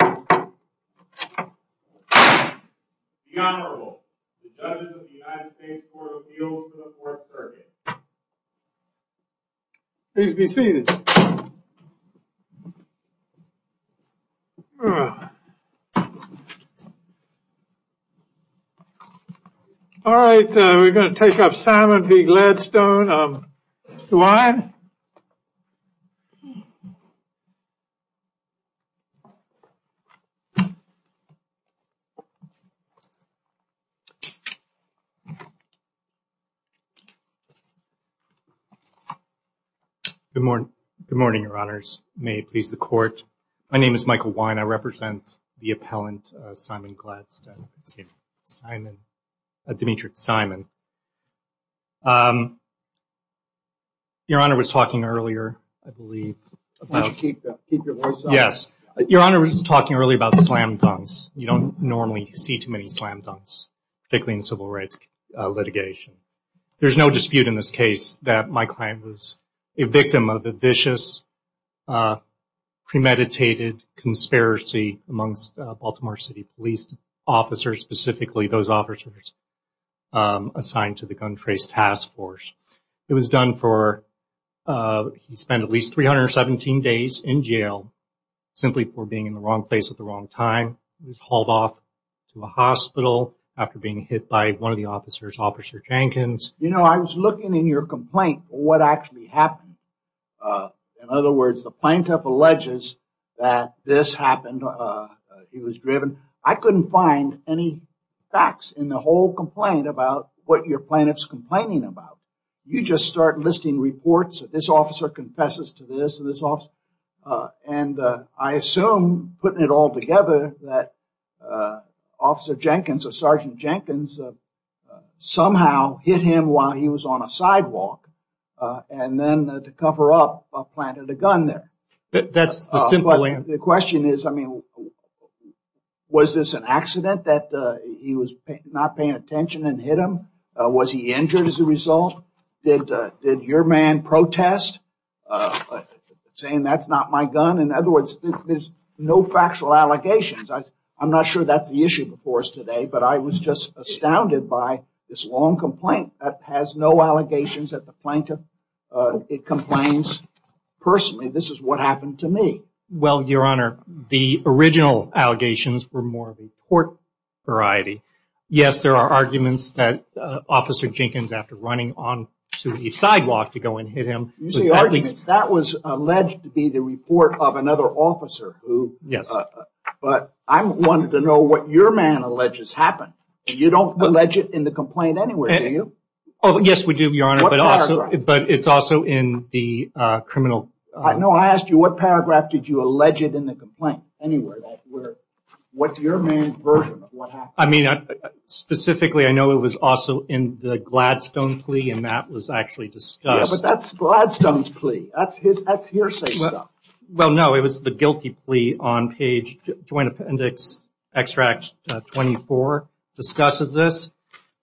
The Honorable, the Judge of the United States Court of Appeals for the Fourth Circuit. Please be seated. All right, we're going to take up Simon v. Gladstone. Good morning, Your Honors. May it please the Court. My name is Michael Wein. I represent the appellant, Simon Gladstone. Your Honor was talking earlier about slam dunks. You don't normally see too many slam dunks, particularly in civil rights litigation. There's no dispute in this case that my client was a victim of a vicious, premeditated conspiracy amongst Baltimore City police officers, specifically those officers assigned to the Gun Trace Task Force. It was done for, he spent at least 317 days in jail simply for being in the wrong place at the wrong time. He was hauled off to a hospital after being hit by one of the officers, Officer Jenkins. You know, I was looking in your complaint for what actually happened. In other words, the plaintiff alleges that this happened. He was driven. I couldn't find any facts in the whole complaint about what your plaintiff's complaining about. You just start listing reports that this officer confesses to this and this officer. And I assume, putting it all together, that Officer Jenkins or Sergeant Jenkins somehow hit him while he was on a sidewalk. And then to cover up, planted a gun there. That's the simple answer. The question is, I mean, was this an accident that he was not paying attention and hit him? Was he injured as a result? Did your man protest, saying that's not my gun? In other words, there's no factual allegations. I'm not sure that's the issue before us today, but I was just astounded by this long complaint that has no allegations at the plaintiff. It complains, personally, this is what happened to me. Well, Your Honor, the original allegations were more of a court variety. Yes, there are arguments that Officer Jenkins, after running onto the sidewalk to go and hit him. You say arguments. That was alleged to be the report of another officer. Yes. But I wanted to know what your man alleges happened. You don't allege it in the complaint anywhere, do you? Yes, we do, Your Honor. What paragraph? But it's also in the criminal. No, I asked you what paragraph did you allege it in the complaint anywhere? What's your man's version of what happened? I mean, specifically, I know it was also in the Gladstone plea, and that was actually discussed. Yeah, but that's Gladstone's plea. That's hearsay stuff. Well, no, it was the guilty plea on page Joint Appendix Extract 24 discusses this,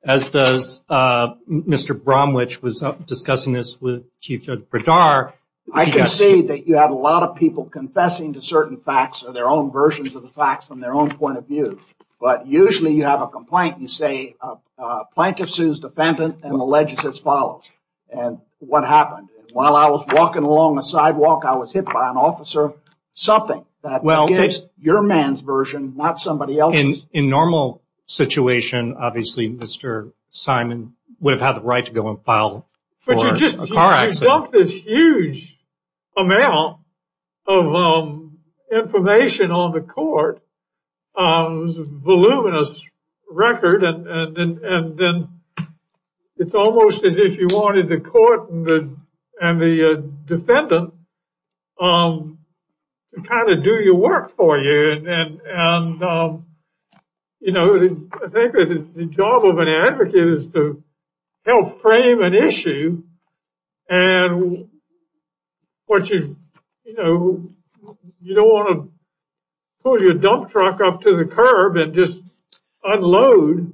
as does Mr. Bromwich was discussing this with Chief Judge Bredar. I can see that you have a lot of people confessing to certain facts or their own versions of the facts from their own point of view. But usually you have a complaint and you say a plaintiff sues defendant and alleges as follows. And what happened? While I was walking along the sidewalk, I was hit by an officer. Something that gives your man's version, not somebody else's. In a normal situation, obviously, Mr. Simon would have had the right to go and file for a car accident. But you just dumped this huge amount of information on the court. It was a voluminous record. And then it's almost as if you wanted the court and the defendant to kind of do your work for you. And, you know, I think the job of an advocate is to help frame an issue. And you don't want to pull your dump truck up to the curb and just unload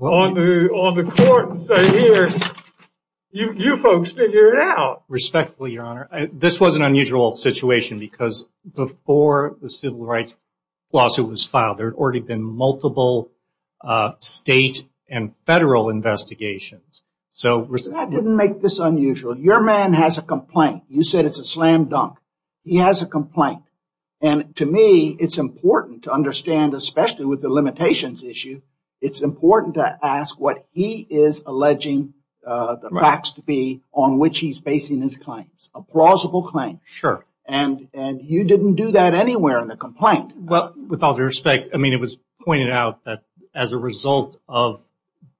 on the court and say, here, you folks figure it out. Respectfully, Your Honor, this was an unusual situation because before the civil rights lawsuit was filed, there had already been multiple state and federal investigations. That didn't make this unusual. Your man has a complaint. You said it's a slam dunk. He has a complaint. And to me, it's important to understand, especially with the limitations issue, it's important to ask what he is alleging the facts to be on which he's basing his claims. A plausible claim. Sure. And you didn't do that anywhere in the complaint. Well, with all due respect, I mean, it was pointed out that as a result of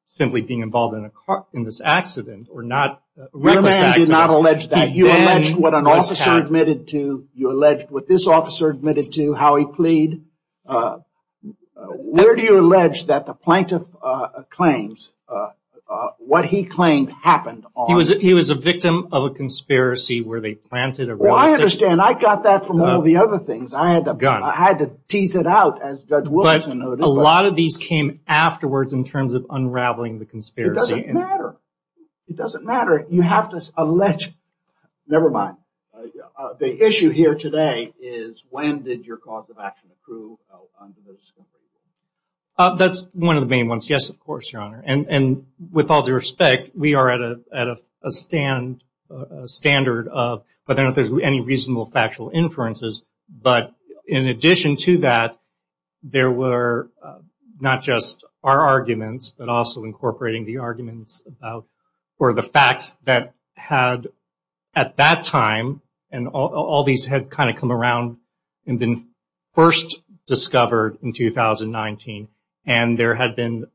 simply being involved in this accident or not. Your man did not allege that. You allege what an officer admitted to. You allege what this officer admitted to, how he plead. Where do you allege that the plaintiff claims, what he claimed happened on? He was a victim of a conspiracy where they planted a. Well, I understand. I got that from all the other things. I had to go. I had to tease it out as well. But a lot of these came afterwards in terms of unraveling the conspiracy. It doesn't matter. It doesn't matter. You have to allege. Never mind. The issue here today is when did your cause of action approve? That's one of the main ones. Yes, of course, Your Honor. And with all due respect, we are at a stand standard of whether there's any reasonable factual inferences. But in addition to that, there were not just our arguments, but also incorporating the arguments for the facts that had at that time, and all these had kind of come around and been first discovered in 2019. And there had been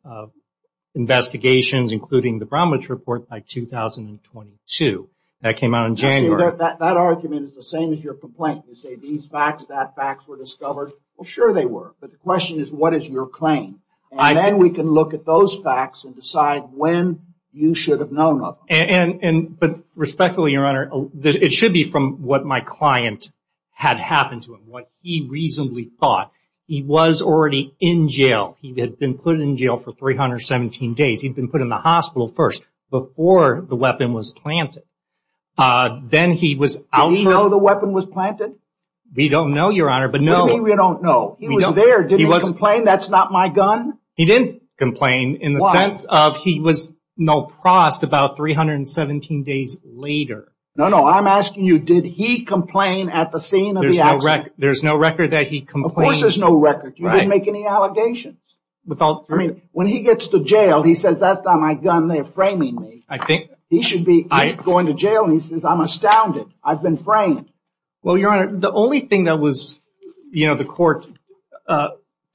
investigations, including the Bromwich Report, by 2022. That came out in January. That argument is the same as your complaint. You say these facts, that facts were discovered. Well, sure they were. But the question is what is your claim? And then we can look at those facts and decide when you should have known of them. But respectfully, Your Honor, it should be from what my client had happened to him, what he reasonably thought. He was already in jail. He had been put in jail for 317 days. He had been put in the hospital first, before the weapon was planted. Did he know the weapon was planted? We don't know, Your Honor, but no. What do you mean we don't know? He was there. Did he complain, that's not my gun? He didn't complain in the sense of he was no prost about 317 days later. No, no, I'm asking you, did he complain at the scene of the accident? There's no record that he complained. Of course there's no record. You didn't make any allegations. When he gets to jail, he says, that's not my gun, they're framing me. He should be going to jail and he says, I'm astounded, I've been framed. Well, Your Honor, the only thing that the court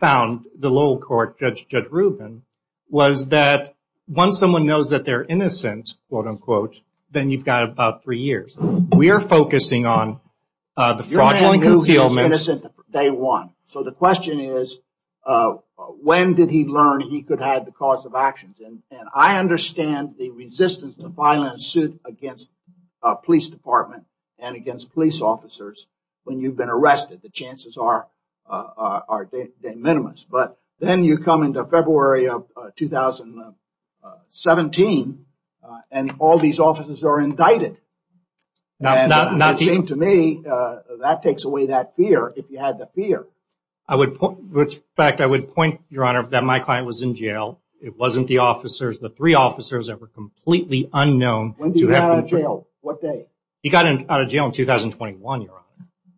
found, the Lowell court, Judge Rubin, was that once someone knows that they're innocent, quote unquote, then you've got about three years. We are focusing on the fraudulent concealment. So the question is, when did he learn he could have the cause of actions? And I understand the resistance to filing a suit against a police department and against police officers when you've been arrested. The chances are de minimis. But then you come into February of 2017 and all these officers are indicted. It seems to me that takes away that fear, if you had the fear. In fact, I would point, Your Honor, that my client was in jail. It wasn't the officers, the three officers that were completely unknown. When did he get out of jail? What day? He got out of jail in 2021, Your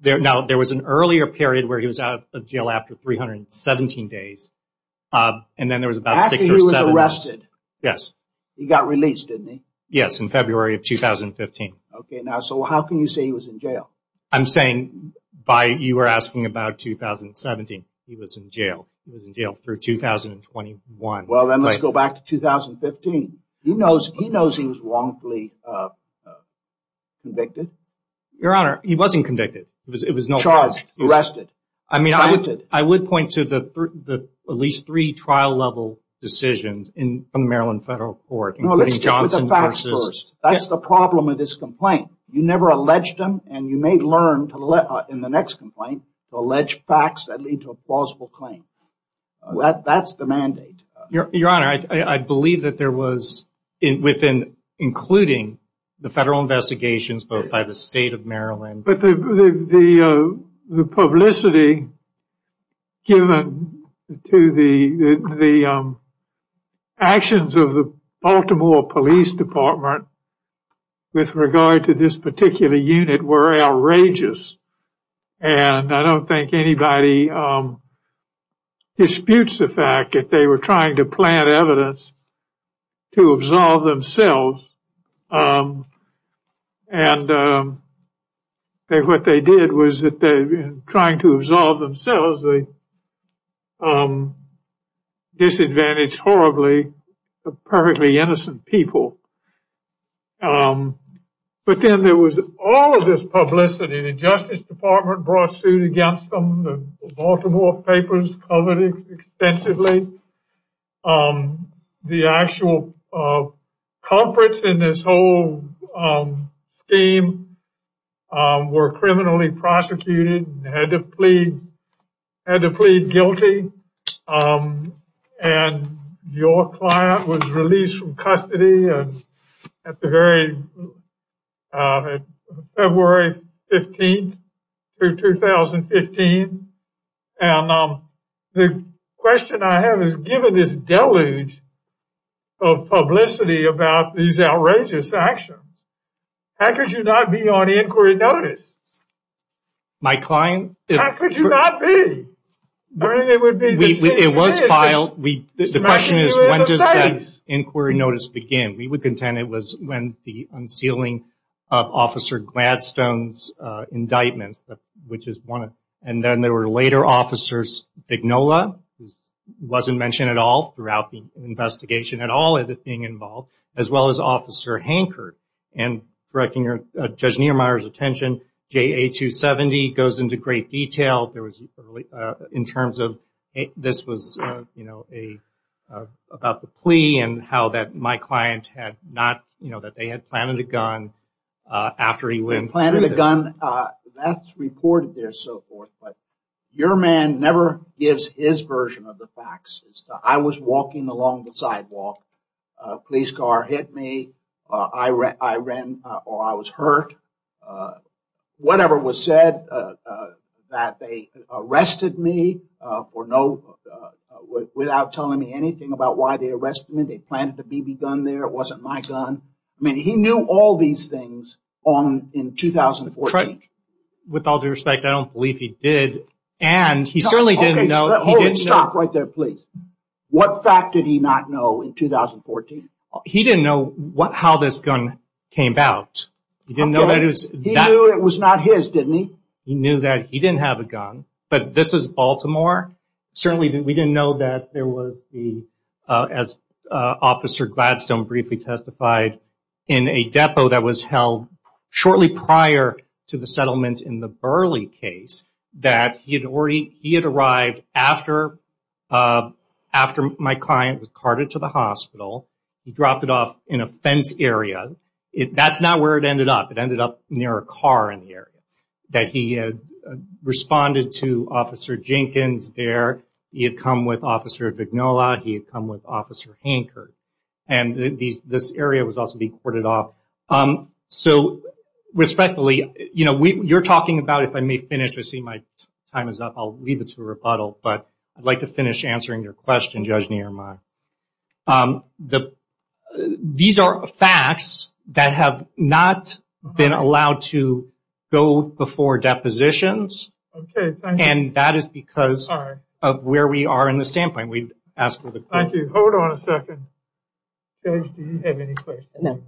Honor. Now, there was an earlier period where he was out of jail after 317 days. And then there was about six or seven. After he was arrested? Yes. He got released, didn't he? Yes, in February of 2015. Okay. Now, so how can you say he was in jail? I'm saying by you were asking about 2017. He was in jail. He was in jail through 2021. Well, then let's go back to 2015. He knows he was wrongfully convicted. Your Honor, he wasn't convicted. He was charged, arrested. I mean, I would point to at least three trial-level decisions from the Maryland Federal Court, including Johnson v. That's the problem with this complaint. You never alleged him, and you may learn in the next complaint to allege facts that lead to a plausible claim. That's the mandate. Your Honor, I believe that there was, including the federal investigations by the state of Maryland. But the publicity given to the actions of the Baltimore Police Department with regard to this particular unit were outrageous. And I don't think anybody disputes the fact that they were trying to plant evidence to absolve themselves. And what they did was that in trying to absolve themselves, they disadvantaged horribly the perfectly innocent people. But then there was all of this publicity. The Justice Department brought suit against them. The Baltimore papers covered it extensively. The actual culprits in this whole scheme were criminally prosecuted and had to plead guilty. And your client was released from custody February 15, 2015. And the question I have is, given this deluge of publicity about these outrageous actions, how could you not be on inquiry notice? How could you not be? It was filed. The question is, when does that inquiry notice begin? We would contend it was when the unsealing of Officer Gladstone's indictments, and then there were later Officers Dignola, who wasn't mentioned at all throughout the investigation at all as being involved, as well as Officer Hankard. And directing Judge Niemeyer's attention, JA-270 goes into great detail in terms of this was about the plea and how that my client had not, that they had planted a gun after he went through this. They planted a gun. That's reported there and so forth. But your man never gives his version of the facts. I was walking along the sidewalk. A police car hit me. I ran, or I was hurt. Whatever was said that they arrested me for no, without telling me anything about why they arrested me. They planted the BB gun there. It wasn't my gun. I mean, he knew all these things in 2014. With all due respect, I don't believe he did. And he certainly didn't know. Stop right there, please. What fact did he not know in 2014? He didn't know how this gun came out. He knew it was not his, didn't he? He knew that he didn't have a gun. But this is Baltimore. Certainly, we didn't know that there was the, as Officer Gladstone briefly testified, in a depot that was held shortly prior to the settlement in the Burley case, that he had arrived after my client was carted to the hospital. He dropped it off in a fence area. That's not where it ended up. It ended up near a car in the area. That he had responded to Officer Jenkins there. He had come with Officer Vignola. He had come with Officer Hankard. And this area was also being courted off. So, respectfully, you're talking about, if I may finish, I see my time is up, I'll leave it to a rebuttal, but I'd like to finish answering your question, Judge Niermaier. These are facts that have not been allowed to go before depositions. Okay, thank you. And that is because of where we are in the standpoint. Thank you. Hold on a second. Judge, do you have any questions? No.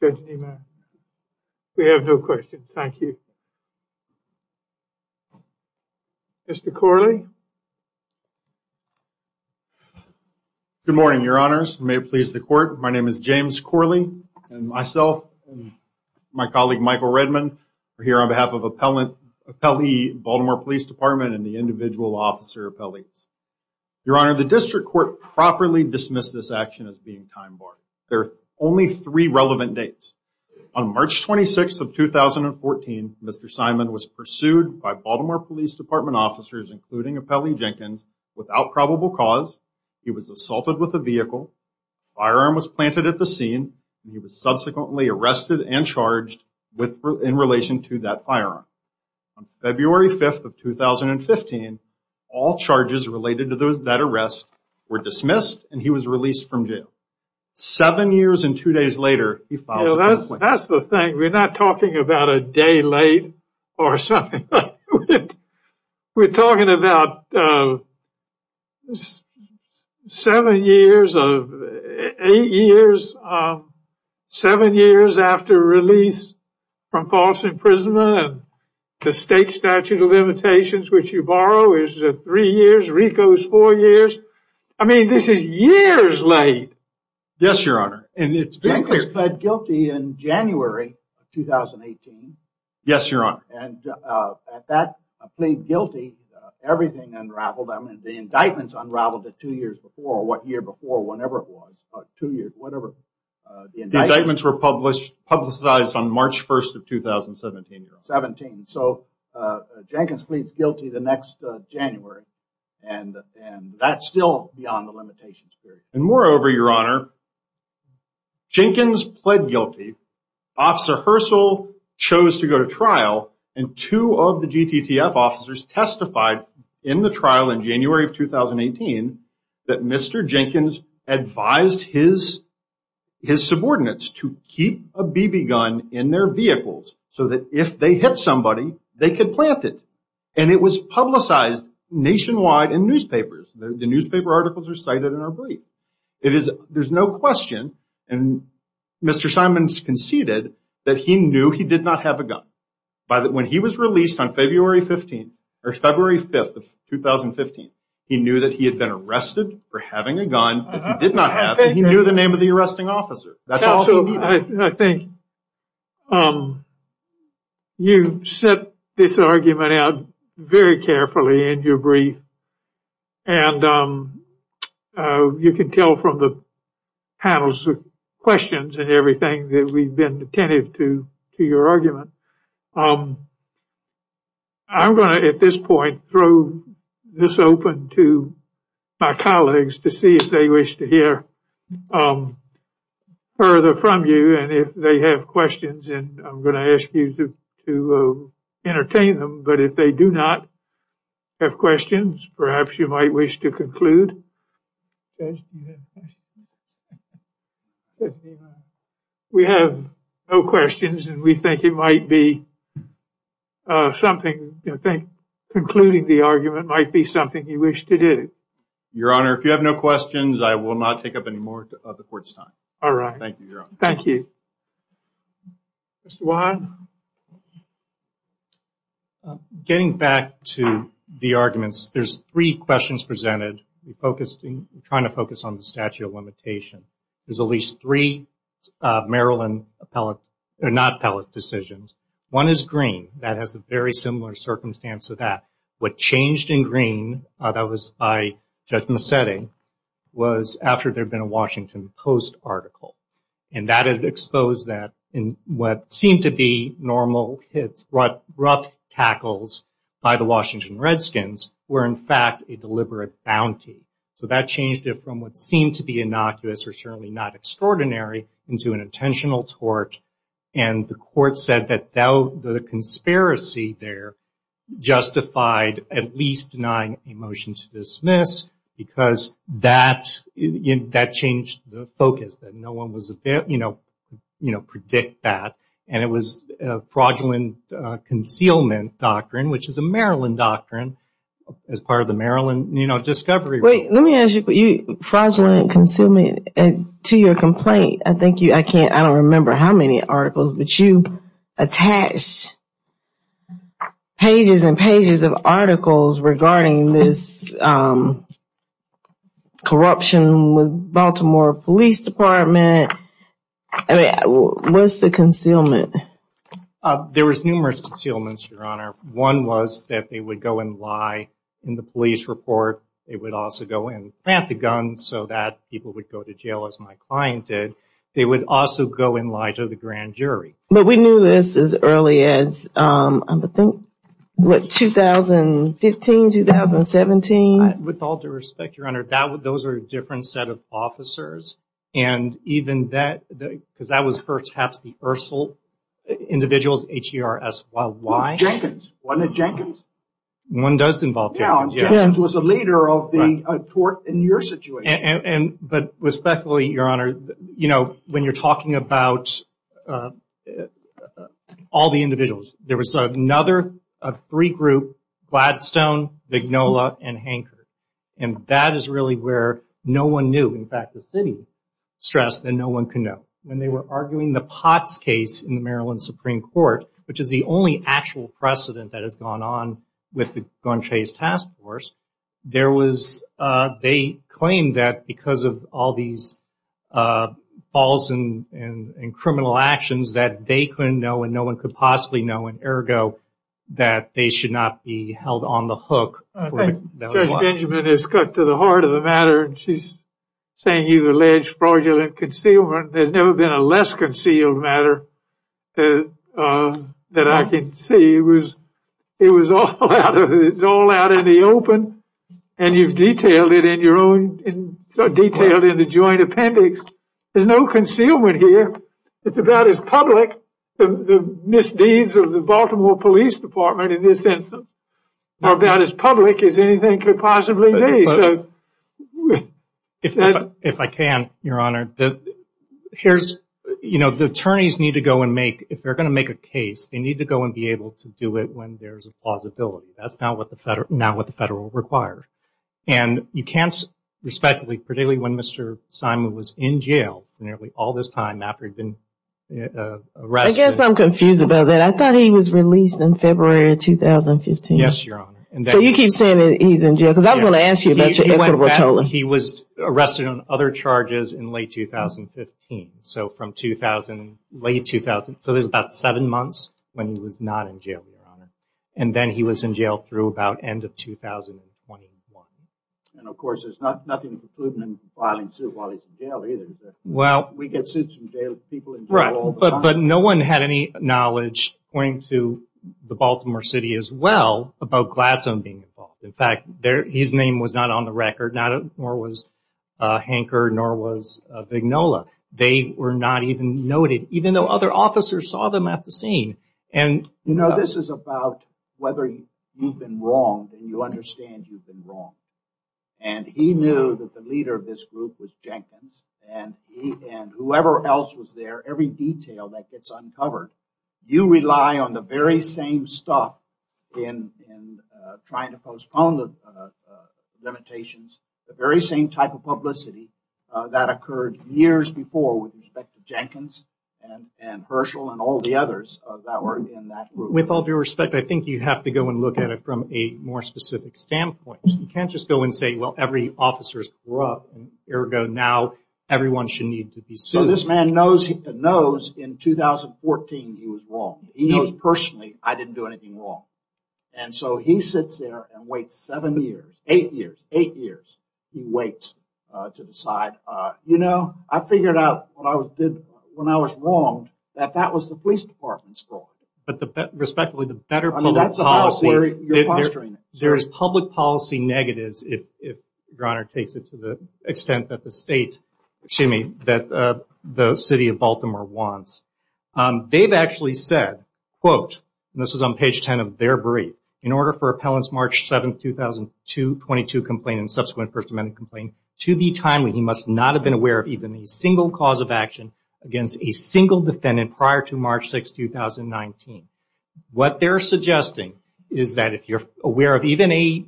Judge Niermaier. We have no questions. Thank you. Mr. Corley. Good morning, Your Honors. May it please the Court. My name is James Corley. And myself and my colleague, Michael Redman, are here on behalf of Appellee Baltimore Police Department and the individual officer appellees. Your Honor, the District Court properly dismissed this action as being time-barred. There are only three relevant dates. On March 26th of 2014, Mr. Simon was pursued by Baltimore Police Department officers, including Appellee Jenkins, without probable cause. He was assaulted with a vehicle. A firearm was planted at the scene. He was subsequently arrested and charged in relation to that firearm. On February 5th of 2015, all charges related to that arrest were dismissed, and he was released from jail. Seven years and two days later, he filed a complaint. That's the thing. We're not talking about a day late or something like that. We're talking about seven years, eight years, seven years after release from false imprisonment, the state statute of limitations, which you borrow, is three years. RICO is four years. I mean, this is years late. Yes, Your Honor. Jenkins pled guilty in January of 2018. Yes, Your Honor. At that plea guilty, everything unraveled. The indictments unraveled the two years before, or what year before, whenever it was, two years, whatever. The indictments were publicized on March 1st of 2017, Your Honor. 17. Jenkins pleads guilty the next January, and that's still beyond the limitations period. And moreover, Your Honor, Jenkins pled guilty. Officer Herschel chose to go to trial, and two of the GTTF officers testified in the trial in January of 2018 that Mr. Jenkins advised his subordinates to keep a BB gun in their vehicles so that if they hit somebody, they could plant it. And it was publicized nationwide in newspapers. The newspaper articles are cited in our brief. There's no question, and Mr. Simons conceded, that he knew he did not have a gun. When he was released on February 5th of 2015, he knew that he had been arrested for having a gun that he did not have, and he knew the name of the arresting officer. I think you set this argument out very carefully in your brief, and you can tell from the panel's questions and everything that we've been attentive to your argument. I'm going to, at this point, throw this open to my colleagues to see if they wish to hear further from you, and if they have questions, I'm going to ask you to entertain them. But if they do not have questions, perhaps you might wish to conclude. We have no questions, and we think concluding the argument might be something you wish to do. Your Honor, if you have no questions, I will not take up any more of the Court's time. All right. Thank you, Your Honor. Thank you. Mr. Wahad? Getting back to the arguments, there's three questions presented. We're trying to focus on the statute of limitation. There's at least three Maryland not-appellate decisions. One is green. That has a very similar circumstance to that. What changed in green, that was by Judge Massetti, was after there had been a Washington Post article, and that had exposed that what seemed to be normal rough tackles by the Washington Redskins were, in fact, a deliberate bounty. So that changed it from what seemed to be innocuous or certainly not extraordinary into an intentional tort, and the Court said that the conspiracy there justified at least denying a motion to dismiss because that changed the focus, that no one was able to predict that, and it was a fraudulent concealment doctrine, which is a Maryland doctrine as part of the Maryland discovery. Wait. Let me ask you. Fraudulent concealment, to your complaint, I don't remember how many articles, but you attached pages and pages of articles regarding this corruption with Baltimore Police Department. What's the concealment? There was numerous concealments, Your Honor. One was that they would go and lie in the police report. They would also go and plant the gun so that people would go to jail, as my client did. They would also go and lie to the grand jury. But we knew this as early as, I think, what, 2015, 2017? With all due respect, Your Honor, those are a different set of officers, and even that, because that was perhaps the Ursel individuals, H-E-R-S-Y-Y. Jenkins. Wasn't it Jenkins? One does involve Jenkins, yes. Yeah, Jenkins was a leader of the tort in your situation. But respectfully, Your Honor, when you're talking about all the individuals, there was another three-group, Gladstone, Vignola, and Hancock, and that is really where no one knew. In fact, the city stressed that no one could know. When they were arguing the Potts case in the Maryland Supreme Court, which is the only actual precedent that has gone on with the Goncay's task force, they claimed that because of all these false and criminal actions that they couldn't know and no one could possibly know, and, ergo, that they should not be held on the hook. Judge Benjamin has cut to the heart of the matter, and she's saying you've alleged fraudulent concealment. There's never been a less concealed matter that I can see. It was all out in the open, and you've detailed it in the joint appendix. There's no concealment here. It's about as public, the misdeeds of the Baltimore Police Department in this instance, or about as public as anything could possibly be. If I can, Your Honor. The attorneys need to go and make, if they're going to make a case, they need to go and be able to do it when there's a plausibility. That's not what the federal requires. And you can't respectfully, particularly when Mr. Simon was in jail nearly all this time after he'd been arrested. I guess I'm confused about that. I thought he was released in February of 2015. Yes, Your Honor. So you keep saying that he's in jail because I was going to ask you about your equitable tolling. He was arrested on other charges in late 2015. So from 2000, late 2000, so there's about seven months when he was not in jail, Your Honor. And then he was in jail through about end of 2021. And, of course, there's nothing to prove him in filing suit while he's in jail either. We get suits from people in jail all the time. Right, but no one had any knowledge, according to the Baltimore City as well, about Glassone being involved. In fact, his name was not on the record, nor was Hanker, nor was Vignola. They were not even noted, even though other officers saw them at the scene. You know, this is about whether you've been wronged and you understand you've been wronged. And he knew that the leader of this group was Jenkins, and whoever else was there, every detail that gets uncovered. You rely on the very same stuff in trying to postpone the limitations, the very same type of publicity that occurred years before with respect to Jenkins and Herschel and all the others that were in that group. With all due respect, I think you have to go and look at it from a more specific standpoint. You can't just go and say, well, every officer is corrupt, and ergo now everyone should need to be sued. So this man knows in 2014 he was wrong. He knows personally I didn't do anything wrong. And so he sits there and waits seven years, eight years, eight years. He waits to decide, you know, I figured out when I was wronged that that was the police department's fault. But respectfully, the better public policy, there is public policy negatives if your Honor takes it to the extent that the state, excuse me, that the city of Baltimore wants. They've actually said, quote, and this is on page 10 of their brief, in order for appellant's March 7, 2002 complaint and subsequent First Amendment complaint to be timely, he must not have been aware of even a single cause of action against a single defendant prior to March 6, 2019. What they're suggesting is that if you're aware of even a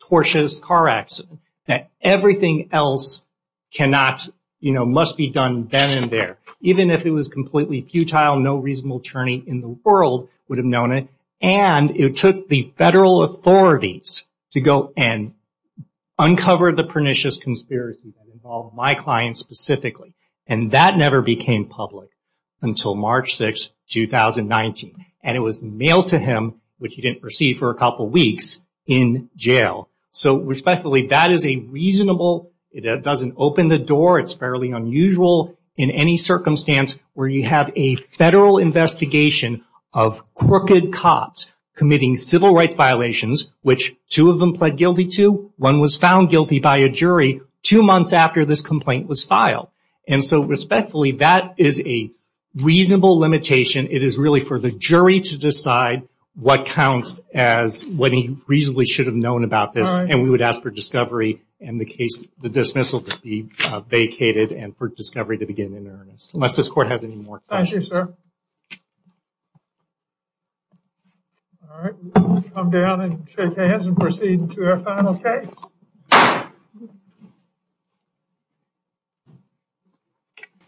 tortuous car accident, that everything else cannot, you know, must be done then and there. Even if it was completely futile, no reasonable attorney in the world would have known it. And it took the federal authorities to go and uncover the pernicious conspiracy that involved my client specifically. And that never became public until March 6, 2019. And it was mailed to him, which he didn't receive for a couple weeks, in jail. So respectfully, that is a reasonable, it doesn't open the door, it's fairly unusual in any circumstance, where you have a federal investigation of crooked cops committing civil rights violations, which two of them pled guilty to. One was found guilty by a jury two months after this complaint was filed. And so respectfully, that is a reasonable limitation. It is really for the jury to decide what counts as what he reasonably should have known about this. And we would ask for discovery in the case, the dismissal to be vacated and for discovery to begin in earnest. Unless this court has any more questions. Thank you, sir. All right, we'll come down and shake hands and proceed to our final case.